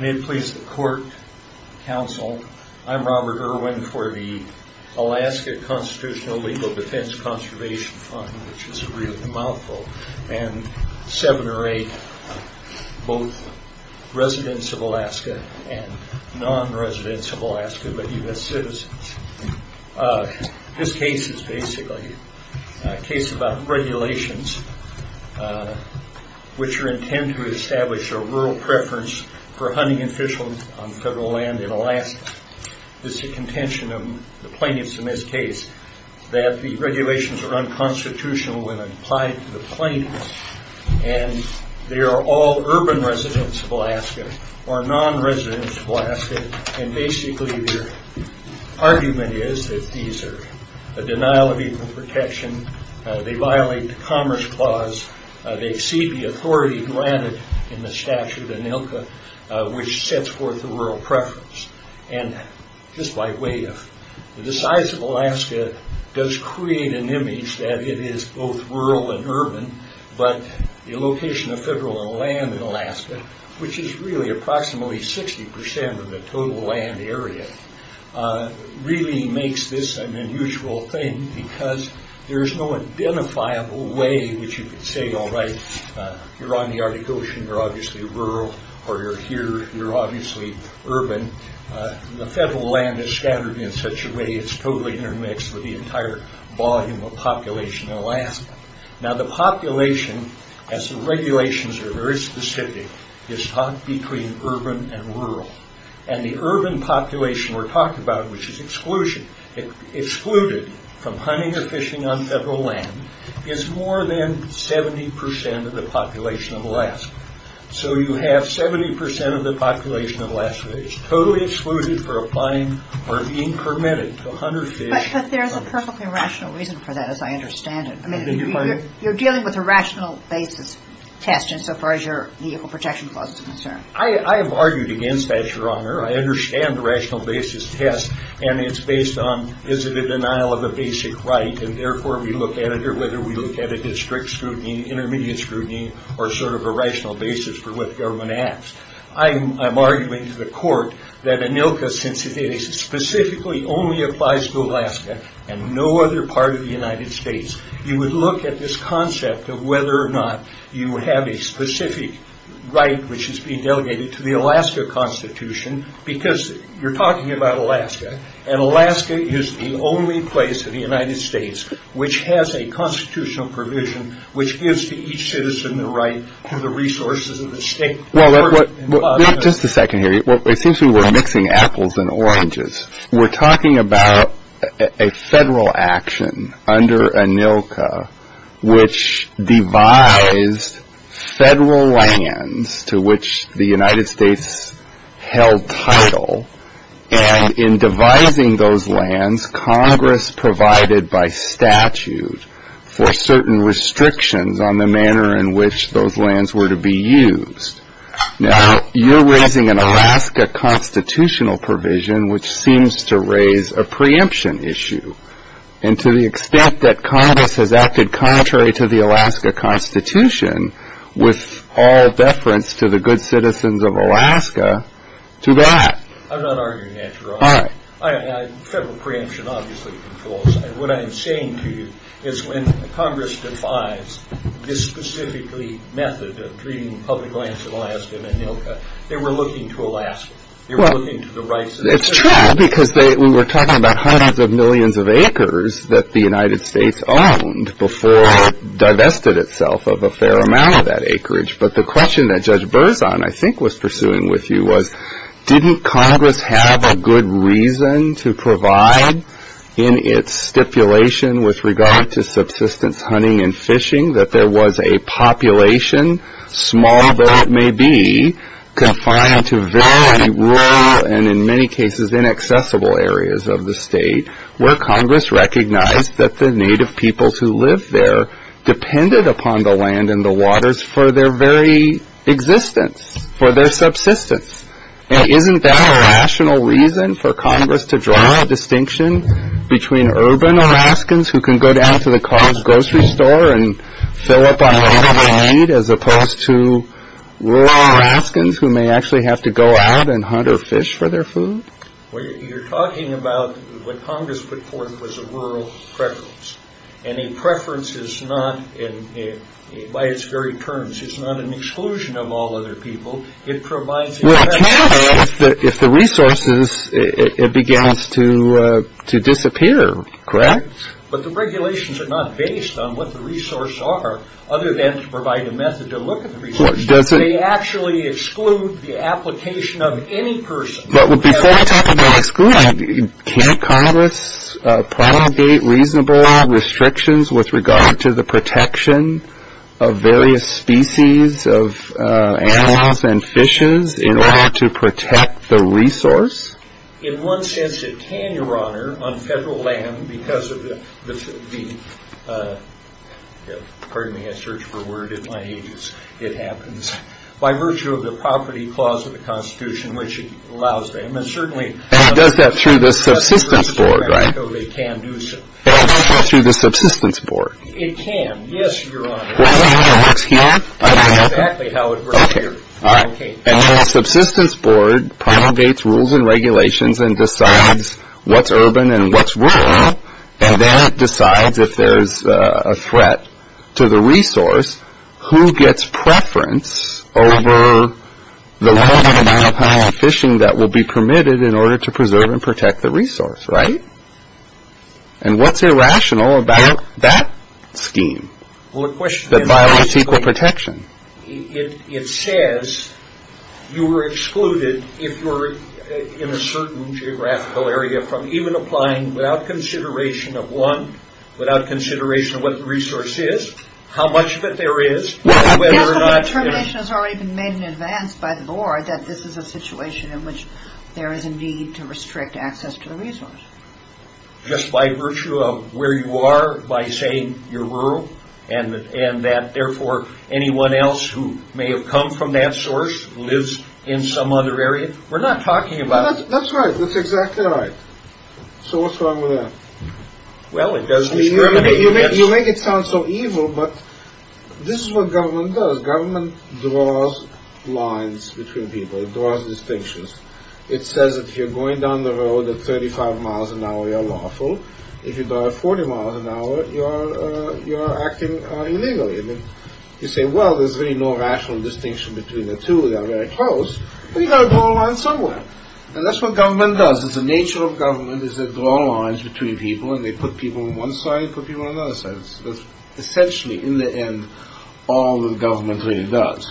May it please the court, counsel, I'm Robert Irwin for the Alaska Constitutional Legal Defense Conservation Fund, which is a really mouthful, and seven or eight, both residents of Alaska and non-residents of Alaska, but U.S. citizens. This case is basically a case about regulations which are intended to establish a rural preference for hunting and fishing on federal land in Alaska. This is a contention of the plaintiffs in this case, that the regulations are unconstitutional when applied to the plaintiffs, and they are all urban residents of Alaska, or non-residents of Alaska, and basically the argument is that these are a denial of equal protection, they violate the Commerce Clause, they exceed the authority granted in the statute of ANILCA, which sets forth the rural preference. And just by way of, the size of Alaska does create an image that it is both rural and urban, but the location of federal land in Alaska, which is really approximately 60% of the total land area, really makes this an unusual thing, because there's no identifiable way which you could say, alright, you're on the Arctic Ocean, you're obviously rural, or you're here, you're obviously urban. The federal land is scattered in such a way it's totally intermixed with the entire volume of population in Alaska. Now the population, as the regulations are very specific, is taught between urban and rural. And the urban population we're talking about, which is excluded from hunting or fishing on federal land, is more than 70% of the population of Alaska. So you have 70% of the population of Alaska is totally excluded for applying or being permitted to hunt or fish. But there's a perfectly rational reason for that, as I understand it. You're dealing with a rational basis test insofar as your Equal Protection Clause is concerned. I have argued against that, Your Honor. I understand the rational basis test, and it's based on, is it a denial of a basic right, and therefore we look at it, or whether we look at it as strict scrutiny, intermediate scrutiny, or sort of a rational basis for what the government asks. I'm arguing to the court that ANILCA, since it specifically only applies to Alaska and no other part of the United States, you would look at this concept of whether or not you have a specific right which is being delegated to the Alaska Constitution, because you're talking about Alaska, and Alaska is the only place in the United States which has a constitutional provision which gives to each citizen the right to the resources of the state. Well, just a second here. It seems to me we're mixing apples and oranges. We're talking about a federal action under ANILCA which devised federal lands to which the United States held title, and in devising those lands, Congress provided by statute for certain restrictions on the manner in which those lands were to be used. Now, you're raising an Alaska constitutional provision which seems to raise a preemption issue, and to the extent that Congress has acted contrary to the Alaska Constitution with all deference to the good citizens of Alaska, to that. I'm not arguing that, Your Honor. All right. Federal preemption obviously controls. What I'm saying to you is when Congress defies this specifically method of treating public lands in Alaska and ANILCA, they were looking to Alaska. They were looking to the rights of the citizens. Well, it's true, because we were talking about hundreds of millions of acres that the United States owned before it divested itself of a fair amount of that acreage, but the question that Judge Berzon, I think, was pursuing with you was, didn't Congress have a good reason to provide in its stipulation with regard to subsistence hunting and fishing that there was a population, small though it may be, confined to very rural and in many cases inaccessible areas of the state where Congress recognized that the native peoples who lived there depended upon the land and the waters for their very existence, for their subsistence? And isn't that a rational reason for Congress to draw a distinction between urban Alaskans who can go down to the car's grocery store and fill up on whatever they need as opposed to rural Alaskans who may actually have to go out and hunt or fish for their food? Well, you're talking about what Congress put forth was a rural preference, and a preference is not, by its very terms, it's not an exclusion of all other people. It provides a preference of... Well, it doesn't matter if the resources, it begins to disappear, correct? But the regulations are not based on what the resources are, other than to provide a method to look at the resources. Does it... They actually exclude the application of any person. But before we talk about excluding, can't Congress promulgate reasonable restrictions with regard to the protection of various species of animals and fishes in order to protect the resource? In one sense it can, Your Honor, on federal land because of the... Pardon me, I search for a word in my ages. It happens by virtue of the property clause of the Constitution, which allows them, and certainly... And it does that through the subsistence board, right? So they can do so. And it does that through the subsistence board? It can, yes, Your Honor. That's how it works here? That's exactly how it works here. Okay, all right. And then the subsistence board promulgates rules and regulations and decides what's urban and what's rural, and then it decides if there's a threat to the resource, who gets preference over the limited amount of fishing that will be permitted in order to preserve and protect the resource, right? And what's irrational about that scheme? Well, the question is... That violates equal protection. It says you are excluded if you're in a certain geographical area from even applying without consideration of one, without consideration of what the resource is, how much of it there is, whether or not... Yes, but the determination has already been made in advance by the board that this is a situation in which there is a need to restrict access to the resource. Just by virtue of where you are, by saying you're rural, and that, therefore, anyone else who may have come from that source lives in some other area. We're not talking about... That's right. That's exactly right. So what's wrong with that? Well, it does discriminate against... You make it sound so evil, but this is what government does. Government draws lines between people. It draws distinctions. It says if you're going down the road at 35 miles an hour, you're lawful. If you drive 40 miles an hour, you're acting illegally. You say, well, there's really no rational distinction between the two. They're very close. But you've got to draw a line somewhere. And that's what government does. It's the nature of government, is they draw lines between people, and they put people on one side and put people on the other side. Essentially, in the end, all that government really does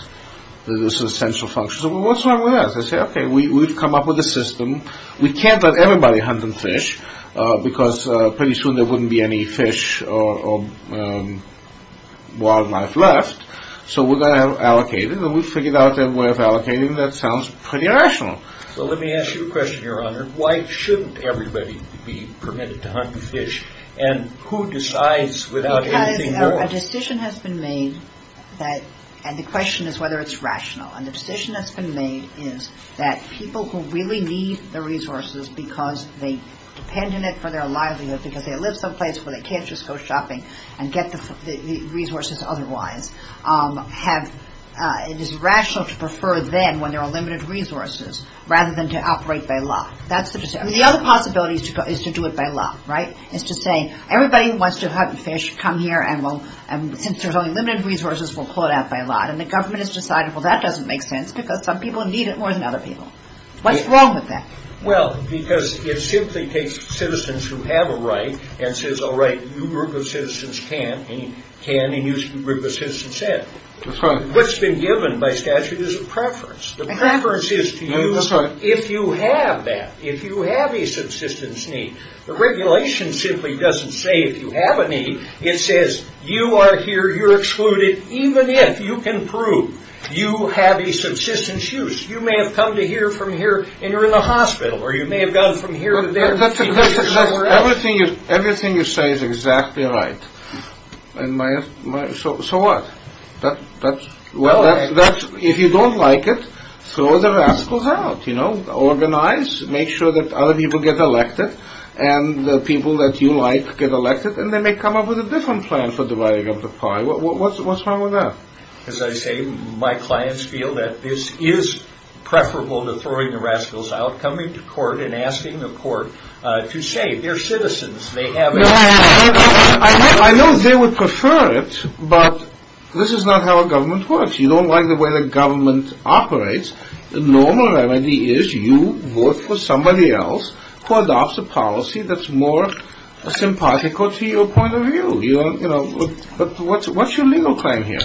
is this essential function. So what's wrong with that? They say, okay, we've come up with a system. We can't let everybody hunt and fish because pretty soon there wouldn't be any fish or wildlife left. So we're going to allocate it, and we've figured out a way of allocating it. That sounds pretty rational. So let me ask you a question, Your Honor. Why shouldn't everybody be permitted to hunt and fish, and who decides without anything going? Because a decision has been made, and the question is whether it's rational. And the decision that's been made is that people who really need the resources because they depend on it for their livelihood, because they live someplace where they can't just go shopping and get the resources otherwise, it is rational to prefer then, when there are limited resources, rather than to operate by law. I mean, the other possibility is to do it by law, right? It's to say, everybody who wants to hunt and fish, come here, and since there's only limited resources, we'll pull it out by law. And the government has decided, well, that doesn't make sense because some people need it more than other people. What's wrong with that? Well, because it simply takes citizens who have a right and says, all right, you group of citizens can and you group of citizens said. That's right. What's been given by statute is a preference. The preference is to use if you have that, if you have a subsistence need. The regulation simply doesn't say if you have a need. It says you are here, you're excluded, even if you can prove you have a subsistence use. You may have come to here from here and you're in the hospital, or you may have gone from here to there. Everything you say is exactly right. So what? If you don't like it, throw the rascals out. Organize, make sure that other people get elected, and the people that you like get elected, and they may come up with a different plan for dividing up the pie. What's wrong with that? As I say, my clients feel that this is preferable to throwing the rascals out, coming to court and asking the court to say they're citizens. I know they would prefer it, but this is not how a government works. You don't like the way the government operates. The normal remedy is you vote for somebody else who adopts a policy that's more sympathetical to your point of view. But what's your legal claim here?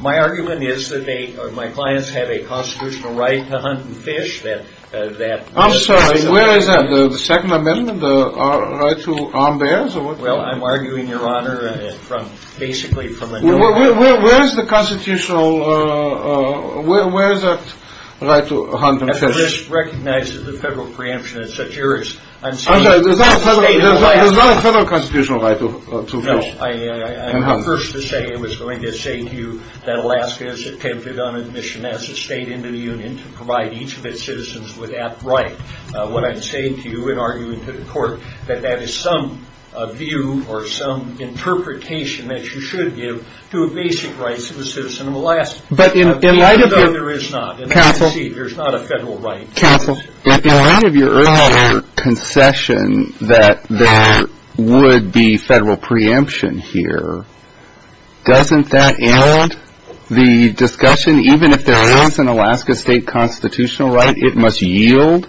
My argument is that my clients have a constitutional right to hunt and fish. I'm sorry, where is that? The Second Amendment, the right to arm bears? Well, I'm arguing, Your Honor, basically from a new order. Where is that constitutional right to hunt and fish? I recognize that the federal preemption is yours. I'm sorry, there's not a federal constitutional right to fish and hunt. No, I'm not first to say it was going to say to you that Alaska has attempted on admission as a state into the Union to provide each of its citizens with that right. What I'm saying to you in arguing to the court that that is some view or some interpretation that you should give to a basic right to the citizen of Alaska. But in light of your earlier concession that there would be federal preemption here, doesn't that end the discussion? Even if there is an Alaska state constitutional right, it must yield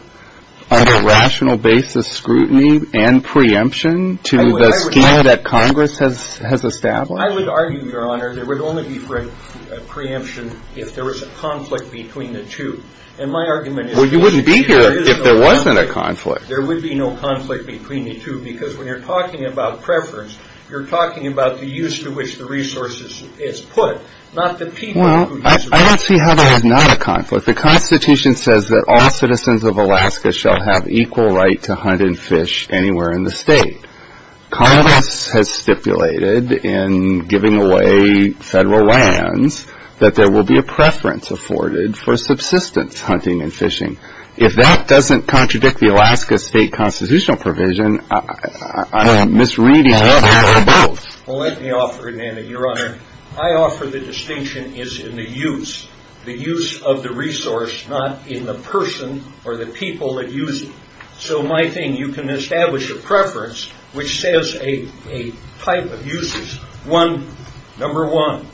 on a rational basis scrutiny and preemption to the scheme that Congress has established? I would argue, Your Honor, there would only be preemption if there was a conflict between the two. And my argument is that there is no conflict. Well, you wouldn't be here if there wasn't a conflict. There would be no conflict between the two because when you're talking about preference, you're talking about the use to which the resource is put, not the people who use it. I don't see how there is not a conflict. The Constitution says that all citizens of Alaska shall have equal right to hunt and fish anywhere in the state. Congress has stipulated in giving away federal lands that there will be a preference afforded for subsistence hunting and fishing. If that doesn't contradict the Alaska state constitutional provision, I'm misreading it. Well, let me offer it, Your Honor. I offer the distinction is in the use, the use of the resource, not in the person or the people that use it. So my thing, you can establish a preference which says a type of uses. One, number one,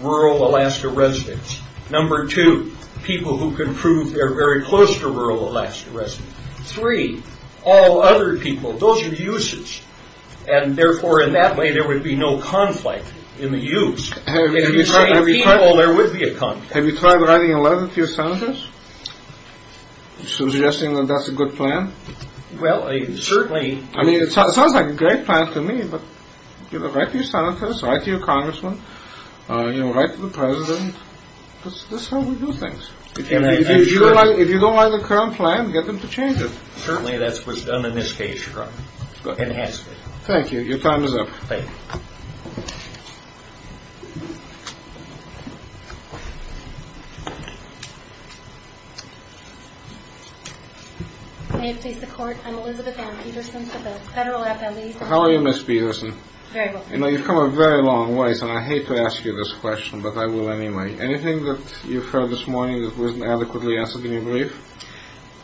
rural Alaska residents. Number two, people who can prove they're very close to rural Alaska residents. Three, all other people. Those are uses. And therefore, in that way, there would be no conflict in the use. If you say people, there would be a conflict. Have you tried writing a letter to your senators suggesting that that's a good plan? Well, certainly. I mean, it sounds like a great plan to me, but write to your senators, write to your congressmen, write to the president. That's how we do things. If you don't like the current plan, get them to change it. Certainly, that's what's done in this case, Your Honor, and has been. Thank you. Your time is up. Thank you. May it please the Court, I'm Elizabeth Ann Peterson with the Federal FBI. How are you, Ms. Peterson? Very well. You know, you've come a very long ways, and I hate to ask you this question, but I will anyway. Anything that you've heard this morning that wasn't adequately answered in your brief?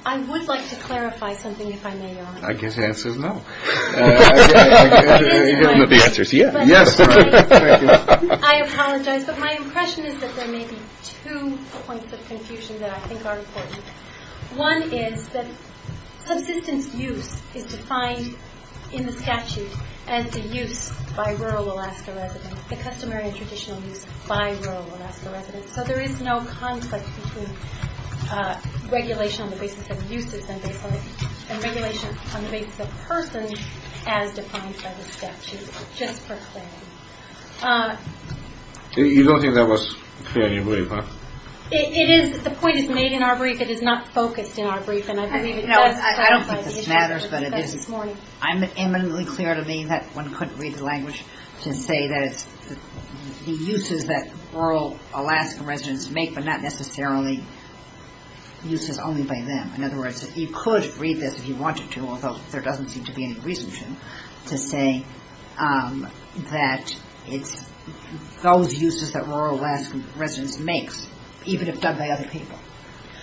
I would like to clarify something, if I may, Your Honor. I guess the answer is no. You give them the answers. Yes. I apologize, but my impression is that there may be two points of confusion that I think are important. One is that subsistence use is defined in the statute as the use by rural Alaska residents, the customary and traditional use by rural Alaska residents. So there is no conflict between regulation on the basis of uses and regulation on the basis of persons as defined by the statute, just for clarity. You don't think that was clear in your brief, huh? It is. The point is made in our brief. It is not focused in our brief, and I believe it does have clarity. No, I don't think it shatters, but it is. I'm eminently clear to me that one couldn't read the language to say that it's the uses that rural Alaskan residents make, but not necessarily uses only by them. In other words, you could read this if you wanted to, although there doesn't seem to be any reason to, to say that it's those uses that rural Alaskan residents makes, even if done by other people.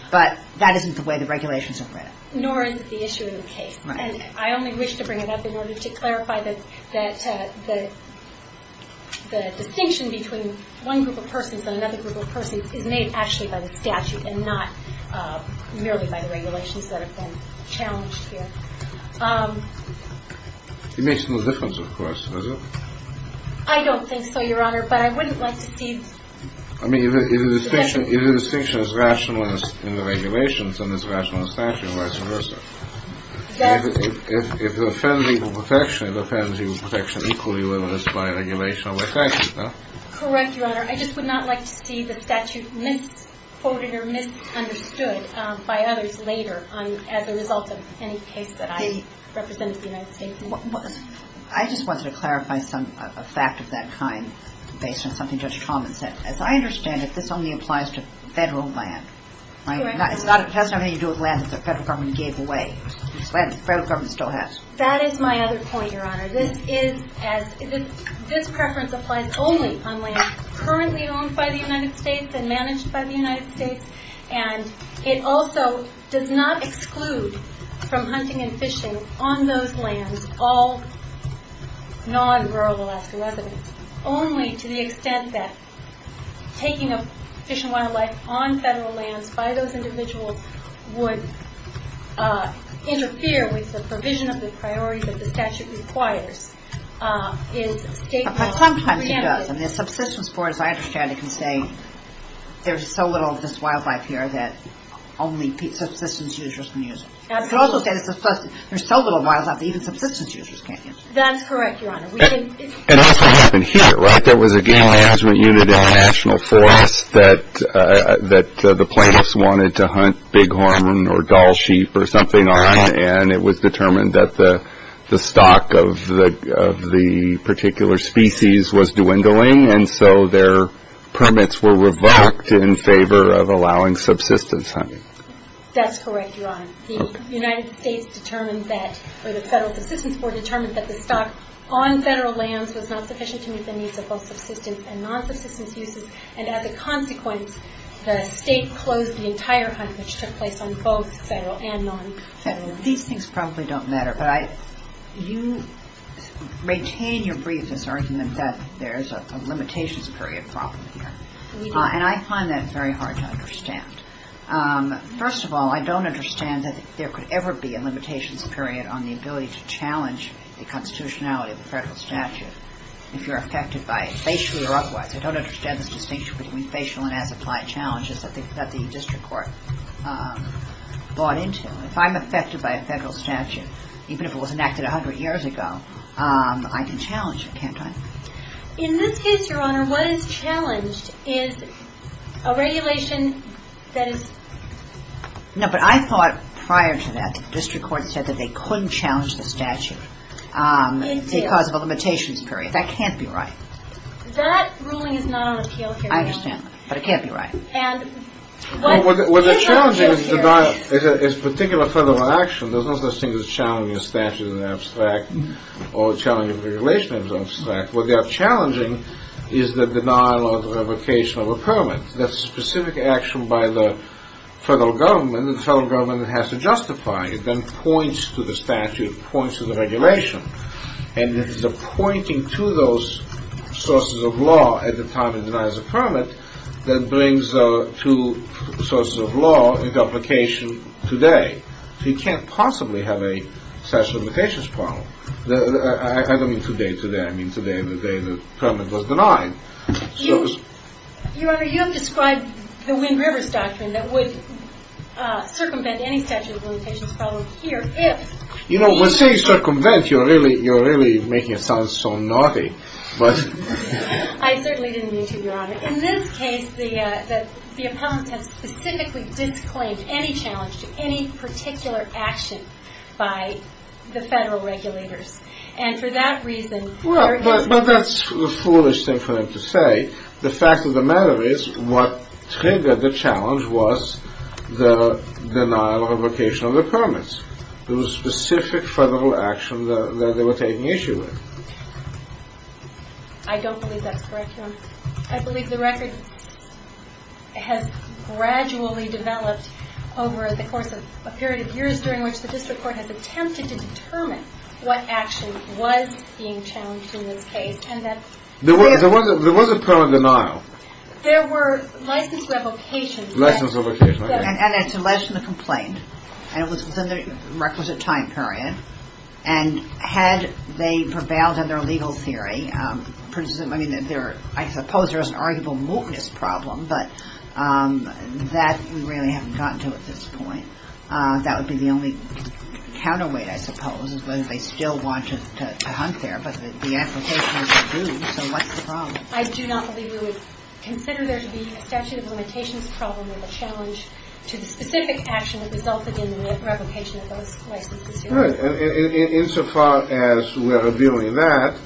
But that isn't the way the regulations are read. Nor is it the issue of the case. And I only wish to bring it up in order to clarify that the distinction between one group of persons and another group of persons is made actually by the statute and not merely by the regulations that have been challenged here. It makes no difference, of course, does it? I don't think so, Your Honor, but I wouldn't like to see – I mean, if the distinction is rational in the regulations, then it's rational in the statute, and vice versa. If it offends equal protection, it offends equal protection equally whether it's by regulation or by statute, no? Correct, Your Honor. I just would not like to see the statute misquoted or misunderstood by others later as a result of any case that I represent as the United States. I just wanted to clarify a fact of that kind based on something Judge Traumann said. As I understand it, this only applies to federal land. It has nothing to do with land that the federal government gave away. Federal government still has. That is my other point, Your Honor. This preference applies only on land currently owned by the United States and managed by the United States. And it also does not exclude from hunting and fishing on those lands all non-rural Alaska residents only to the extent that taking a fish and wildlife on federal lands by those individuals would interfere with the provision of the priority that the statute requires. Sometimes it does, and the subsistence board, as I understand it, can say there's so little of this wildlife here that only subsistence users can use it. Absolutely. It could also say there's so little wildlife that even subsistence users can't use it. That's correct, Your Honor. It also happened here, right? There was a game management unit in a national forest that the plaintiffs wanted to hunt bighorn or dull sheep or something on, and it was determined that the stock of the particular species was dwindling, and so their permits were revoked in favor of allowing subsistence hunting. That's correct, Your Honor. The United States determined that, or the federal subsistence board determined that the stock on federal lands was not sufficient to meet the needs of both subsistence and non-subsistence users, and as a consequence the state closed the entire hunt, which took place on both federal and non-federal lands. These things probably don't matter, but you maintain your briefness argument that there's a limitations period problem here, and I find that very hard to understand. First of all, I don't understand that there could ever be a limitations period on the ability to challenge the constitutionality of the federal statute if you're affected by it, facially or otherwise. I don't understand this distinction between facial and as-applied challenges that the district court bought into. If I'm affected by a federal statute, even if it was enacted 100 years ago, I can challenge it, can't I? In this case, Your Honor, what is challenged is a regulation that is... No, but I thought prior to that the district court said that they couldn't challenge the statute because of a limitations period. That can't be right. That ruling is not on appeal here, Your Honor. I understand, but it can't be right. Well, what they're challenging is particular federal action. There's no such thing as challenging a statute in an abstract or challenging a regulation in an abstract. What they are challenging is the denial or the revocation of a permit. That's specific action by the federal government that the federal government has to justify. It then points to the statute, points to the regulation, and it is the pointing to those sources of law at the time it denies a permit that brings to sources of law into application today. So you can't possibly have a statute of limitations problem. I don't mean today. Today I mean the day the permit was denied. Your Honor, you have described the Wind Rivers Doctrine that would circumvent any statute of limitations problem here if... You know, when you say circumvent, you're really making it sound so naughty. I certainly didn't mean to, Your Honor. Your Honor, in this case, the appellant has specifically disclaimed any challenge to any particular action by the federal regulators. And for that reason... Well, but that's the foolish thing for them to say. The fact of the matter is what triggered the challenge was the denial or revocation of the permits. It was specific federal action that they were taking issue with. I don't believe that's correct, Your Honor. I believe the record has gradually developed over the course of a period of years during which the district court has attempted to determine what action was being challenged in this case. There was a permit denial. There were license revocations. License revocations. And it's alleged in the complaint. And it was in the requisite time period. And had they prevailed in their legal theory, I mean, I suppose there is an arguable mootness problem, but that we really haven't gotten to at this point. That would be the only counterweight, I suppose, is whether they still wanted to hunt there. But the application has been moved, so what's the problem? I do not believe we would consider there to be a statute of limitations problem to the specific action that resulted in the revocation of those licenses. Right. And insofar as we're reviewing that,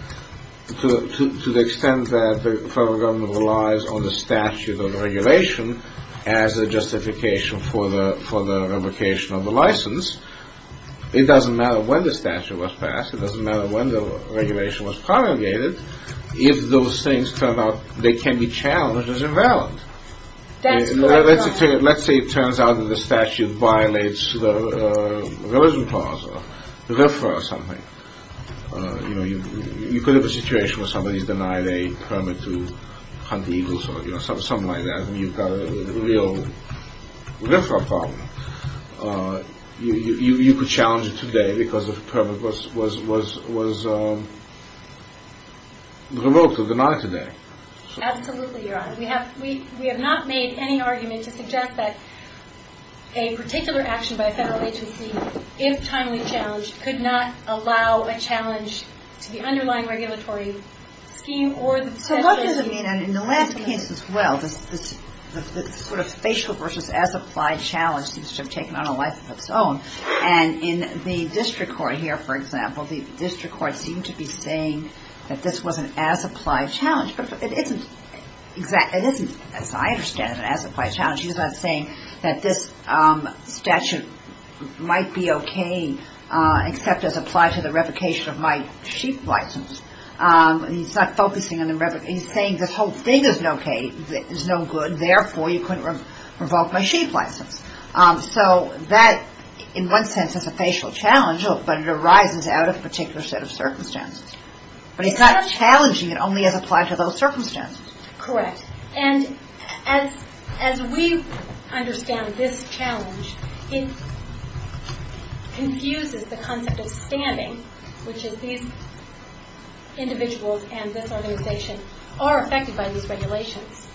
to the extent that the federal government relies on the statute of regulation as a justification for the revocation of the license, it doesn't matter when the statute was passed. It doesn't matter when the regulation was promulgated. If those things come up, they can be challenged as invalid. That's correct, Your Honor. Let's say it turns out that the statute violates the religion clause or something. You could have a situation where somebody's denied a permit to hunt eagles or something like that, and you've got a real problem. You could challenge it today because the permit was revoked or denied today. Absolutely, Your Honor. We have not made any argument to suggest that a particular action by a federal agency, if timely challenged, could not allow a challenge to the underlying regulatory scheme. So what does it mean? In the last case as well, the sort of facial versus as-applied challenge seems to have taken on a life of its own. And in the district court here, for example, the district court seemed to be saying that this was an as-applied challenge. But it isn't, as I understand it, an as-applied challenge. He's not saying that this statute might be okay except as applied to the revocation of my sheep license. He's not focusing on the revocation. He's saying this whole thing is no good. Therefore, you couldn't revoke my sheep license. So that, in one sense, is a facial challenge, but it arises out of a particular set of circumstances. But he's not challenging it only as applied to those circumstances. Correct. And as we understand this challenge, it confuses the concept of standing, which is these individuals and this organization are affected by these regulations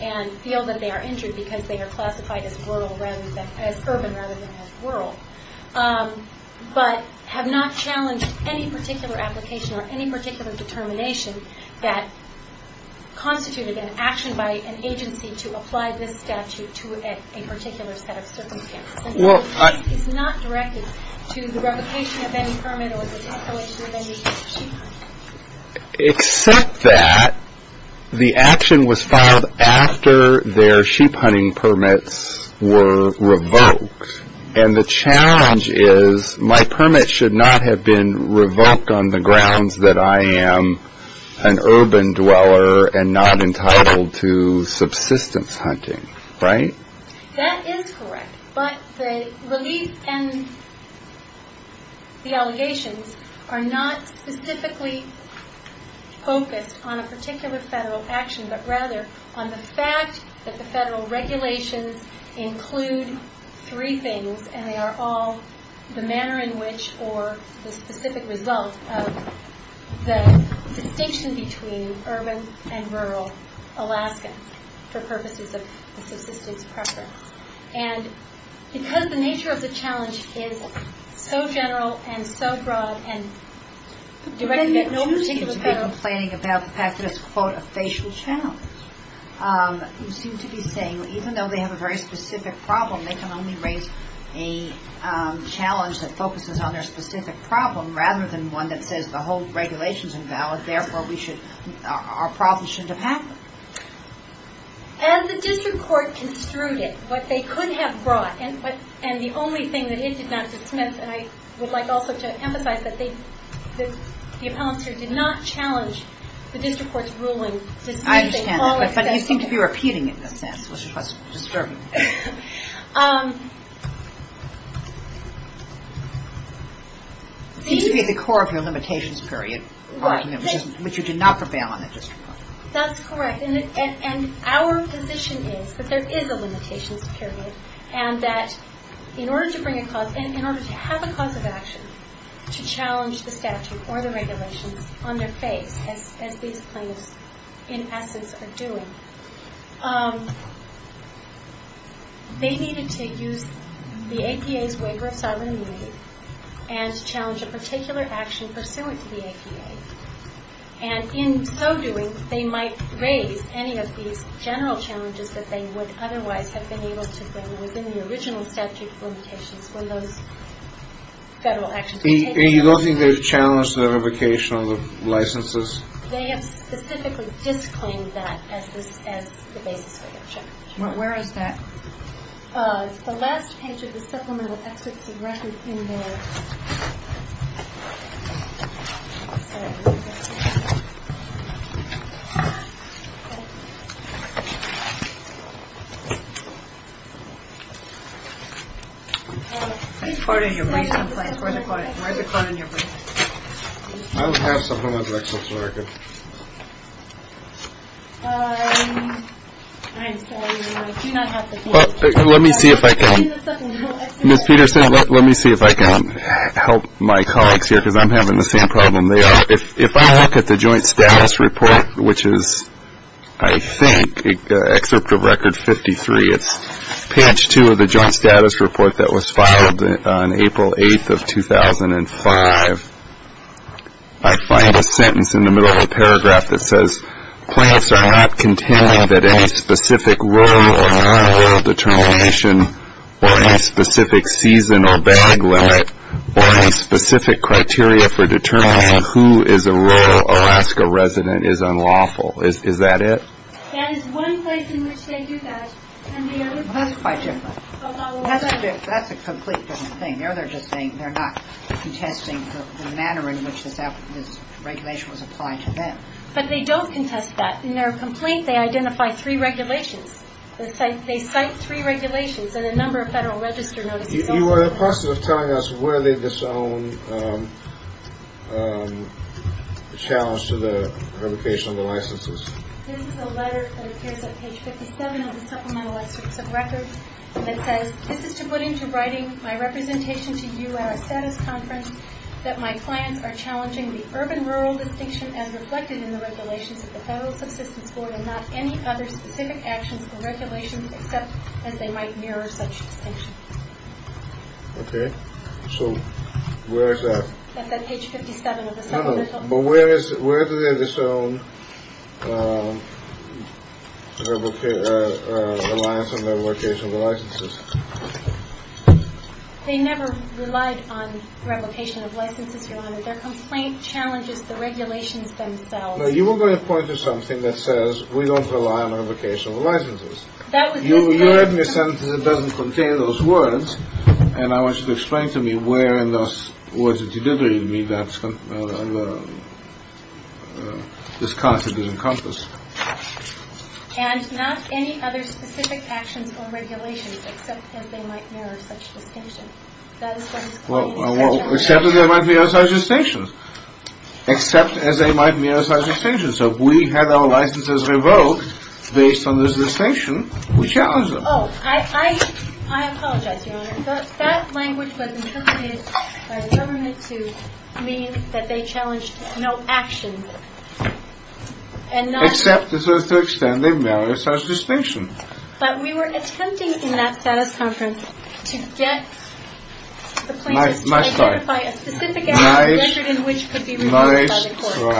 and feel that they are injured because they are classified as urban rather than as rural, but have not challenged any particular application or any particular determination that constituted an action by an agency to apply this statute to a particular set of circumstances. It's not directed to the revocation of any permit or the tax collection of any sheep hunting. Except that the action was filed after their sheep hunting permits were revoked and the challenge is my permit should not have been revoked on the grounds that I am an urban dweller and not entitled to subsistence hunting, right? That is correct, but the relief and the allegations are not specifically focused on a particular federal action, but rather on the fact that the federal regulations include three things and they are all the manner in which or the specific result of the distinction between urban and rural Alaskans for purposes of subsistence preference. And because the nature of the challenge is so general and so broad and directed at no particular federal... You seem to be saying even though they have a very specific problem, they can only raise a challenge that focuses on their specific problem rather than one that says the whole regulation is invalid, therefore our problem shouldn't have happened. And the district court construed it, what they could have brought, and the only thing that it did not dismiss, and I would like also to emphasize that the appellants here did not challenge the district court's ruling... I understand that, but you seem to be repeating it in a sense, which was disturbing. It seems to be at the core of your limitations period, which you did not prevail on at district court. That's correct, and our position is that there is a limitations period and that in order to have a cause of action to challenge the statute or the regulations on their face, as these plaintiffs in essence are doing, they needed to use the APA's waiver of sovereign immunity and challenge a particular action pursuant to the APA. And in so doing, they might raise any of these general challenges that they would otherwise have been able to bring within the original statute limitations when those federal actions were taken. And you don't think they challenged the revocation of licenses? They have specifically disclaimed that as the basis for their challenge. Where is that? The last page of the supplemental exits of record in there. I don't have supplemental exits of record. I do not have the form. Let me see if I can. Ms. Peterson, let me see if I can help my colleagues here because I'm having the same problem. If I look at the joint status report, which is, I think, excerpt of record 53, it's page two of the joint status report that was filed on April 8th of 2005. I find a sentence in the middle of the paragraph that says, plaintiffs are not contending that any specific role or non-role determination or any specific season or bag limit or any specific criteria for determining who is a rural Alaska resident is unlawful. Is that it? That is one place in which they do that. That's quite different. That's a complete different thing. They're not contesting the manner in which this regulation was applied to them. But they don't contest that. In their complaint, they identify three regulations. They cite three regulations and a number of Federal Register notices. You are in the process of telling us where they disown the challenge to the revocation of the licenses. This is a letter that appears on page 57 of the supplemental excerpts of record that says, this is to put into writing my representation to you at a status conference, that my clients are challenging the urban-rural distinction as reflected in the regulations of the Federal Subsistence Board and not any other specific actions or regulations except as they might mirror such distinction. OK, so where is that? That's on page 57 of the supplemental. Where do they disown reliance on the revocation of licenses? They never relied on revocation of licenses, Your Honor. Their complaint challenges the regulations themselves. You were going to point to something that says, we don't rely on revocation of licenses. You heard me say it doesn't contain those words. And I want you to explain to me where in those words that you did read me that this content is encompassed. And not any other specific actions or regulations except as they might mirror such distinction. Well, except as they might mirror such distinction. Except as they might mirror such distinction. So if we had our licenses revoked based on this distinction, we challenge them. Oh, I apologize, Your Honor. That language was interpreted by the government to mean that they challenged no action. Except to the extent they mirror such distinction. But we were attempting in that status conference to get the plaintiffs to ratify a specific act measured in which could be revoked by the court.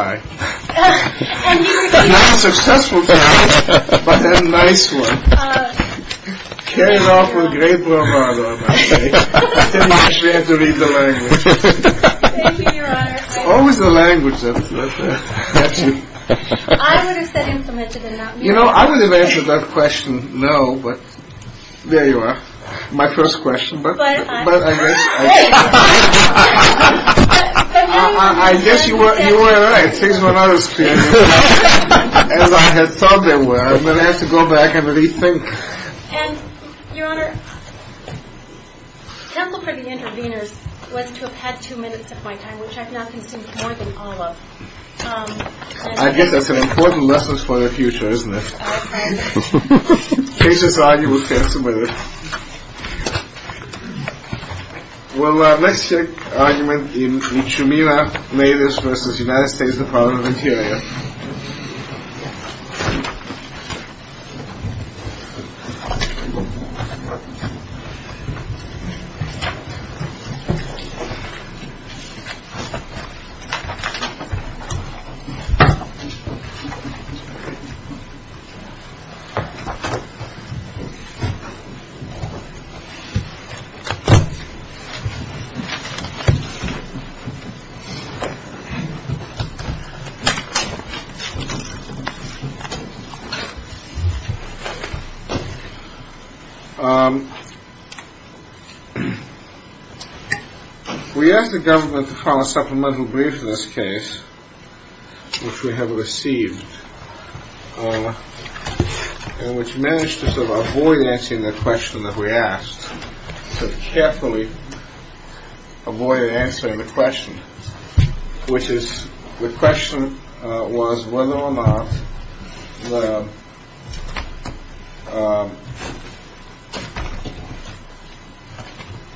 Nice try. Not a successful try, but a nice one. Carried off with great bravado, I must say. You actually had to read the language. Thank you, Your Honor. Always the language that you... I would have said implemented and not mirrored. You know, I would have answered that question no, but there you are. My first question, but... But I... I guess you were right. Things were not as clear as I had thought they were. I'm going to have to go back and rethink. And, Your Honor, counsel for the interveners was to have had two minutes of my time, which I've now consumed more than all of. I guess that's an important lesson for the future, isn't it? Oh, thank you. In case it's all you, we'll cancel with it. Well, let's check argument in Ciumina, Laders v. United States Department of Interior. Thank you. We asked the government to file a supplemental brief in this case, which we have received, and which managed to sort of avoid answering the question that we asked, sort of carefully avoid answering the question, which is the question was whether or not the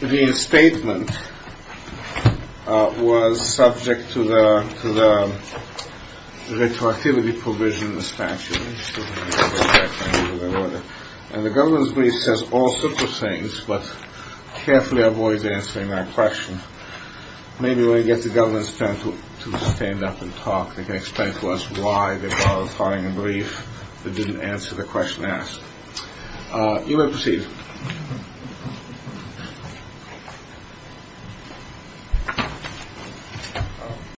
reinstatement was subject to the retroactivity provision in the statute. And the government's brief says all sorts of things, but carefully avoids answering that question. Maybe when we get the government to stand up and talk, they can explain to us why they filed a filing a brief that didn't answer the question asked. You may proceed.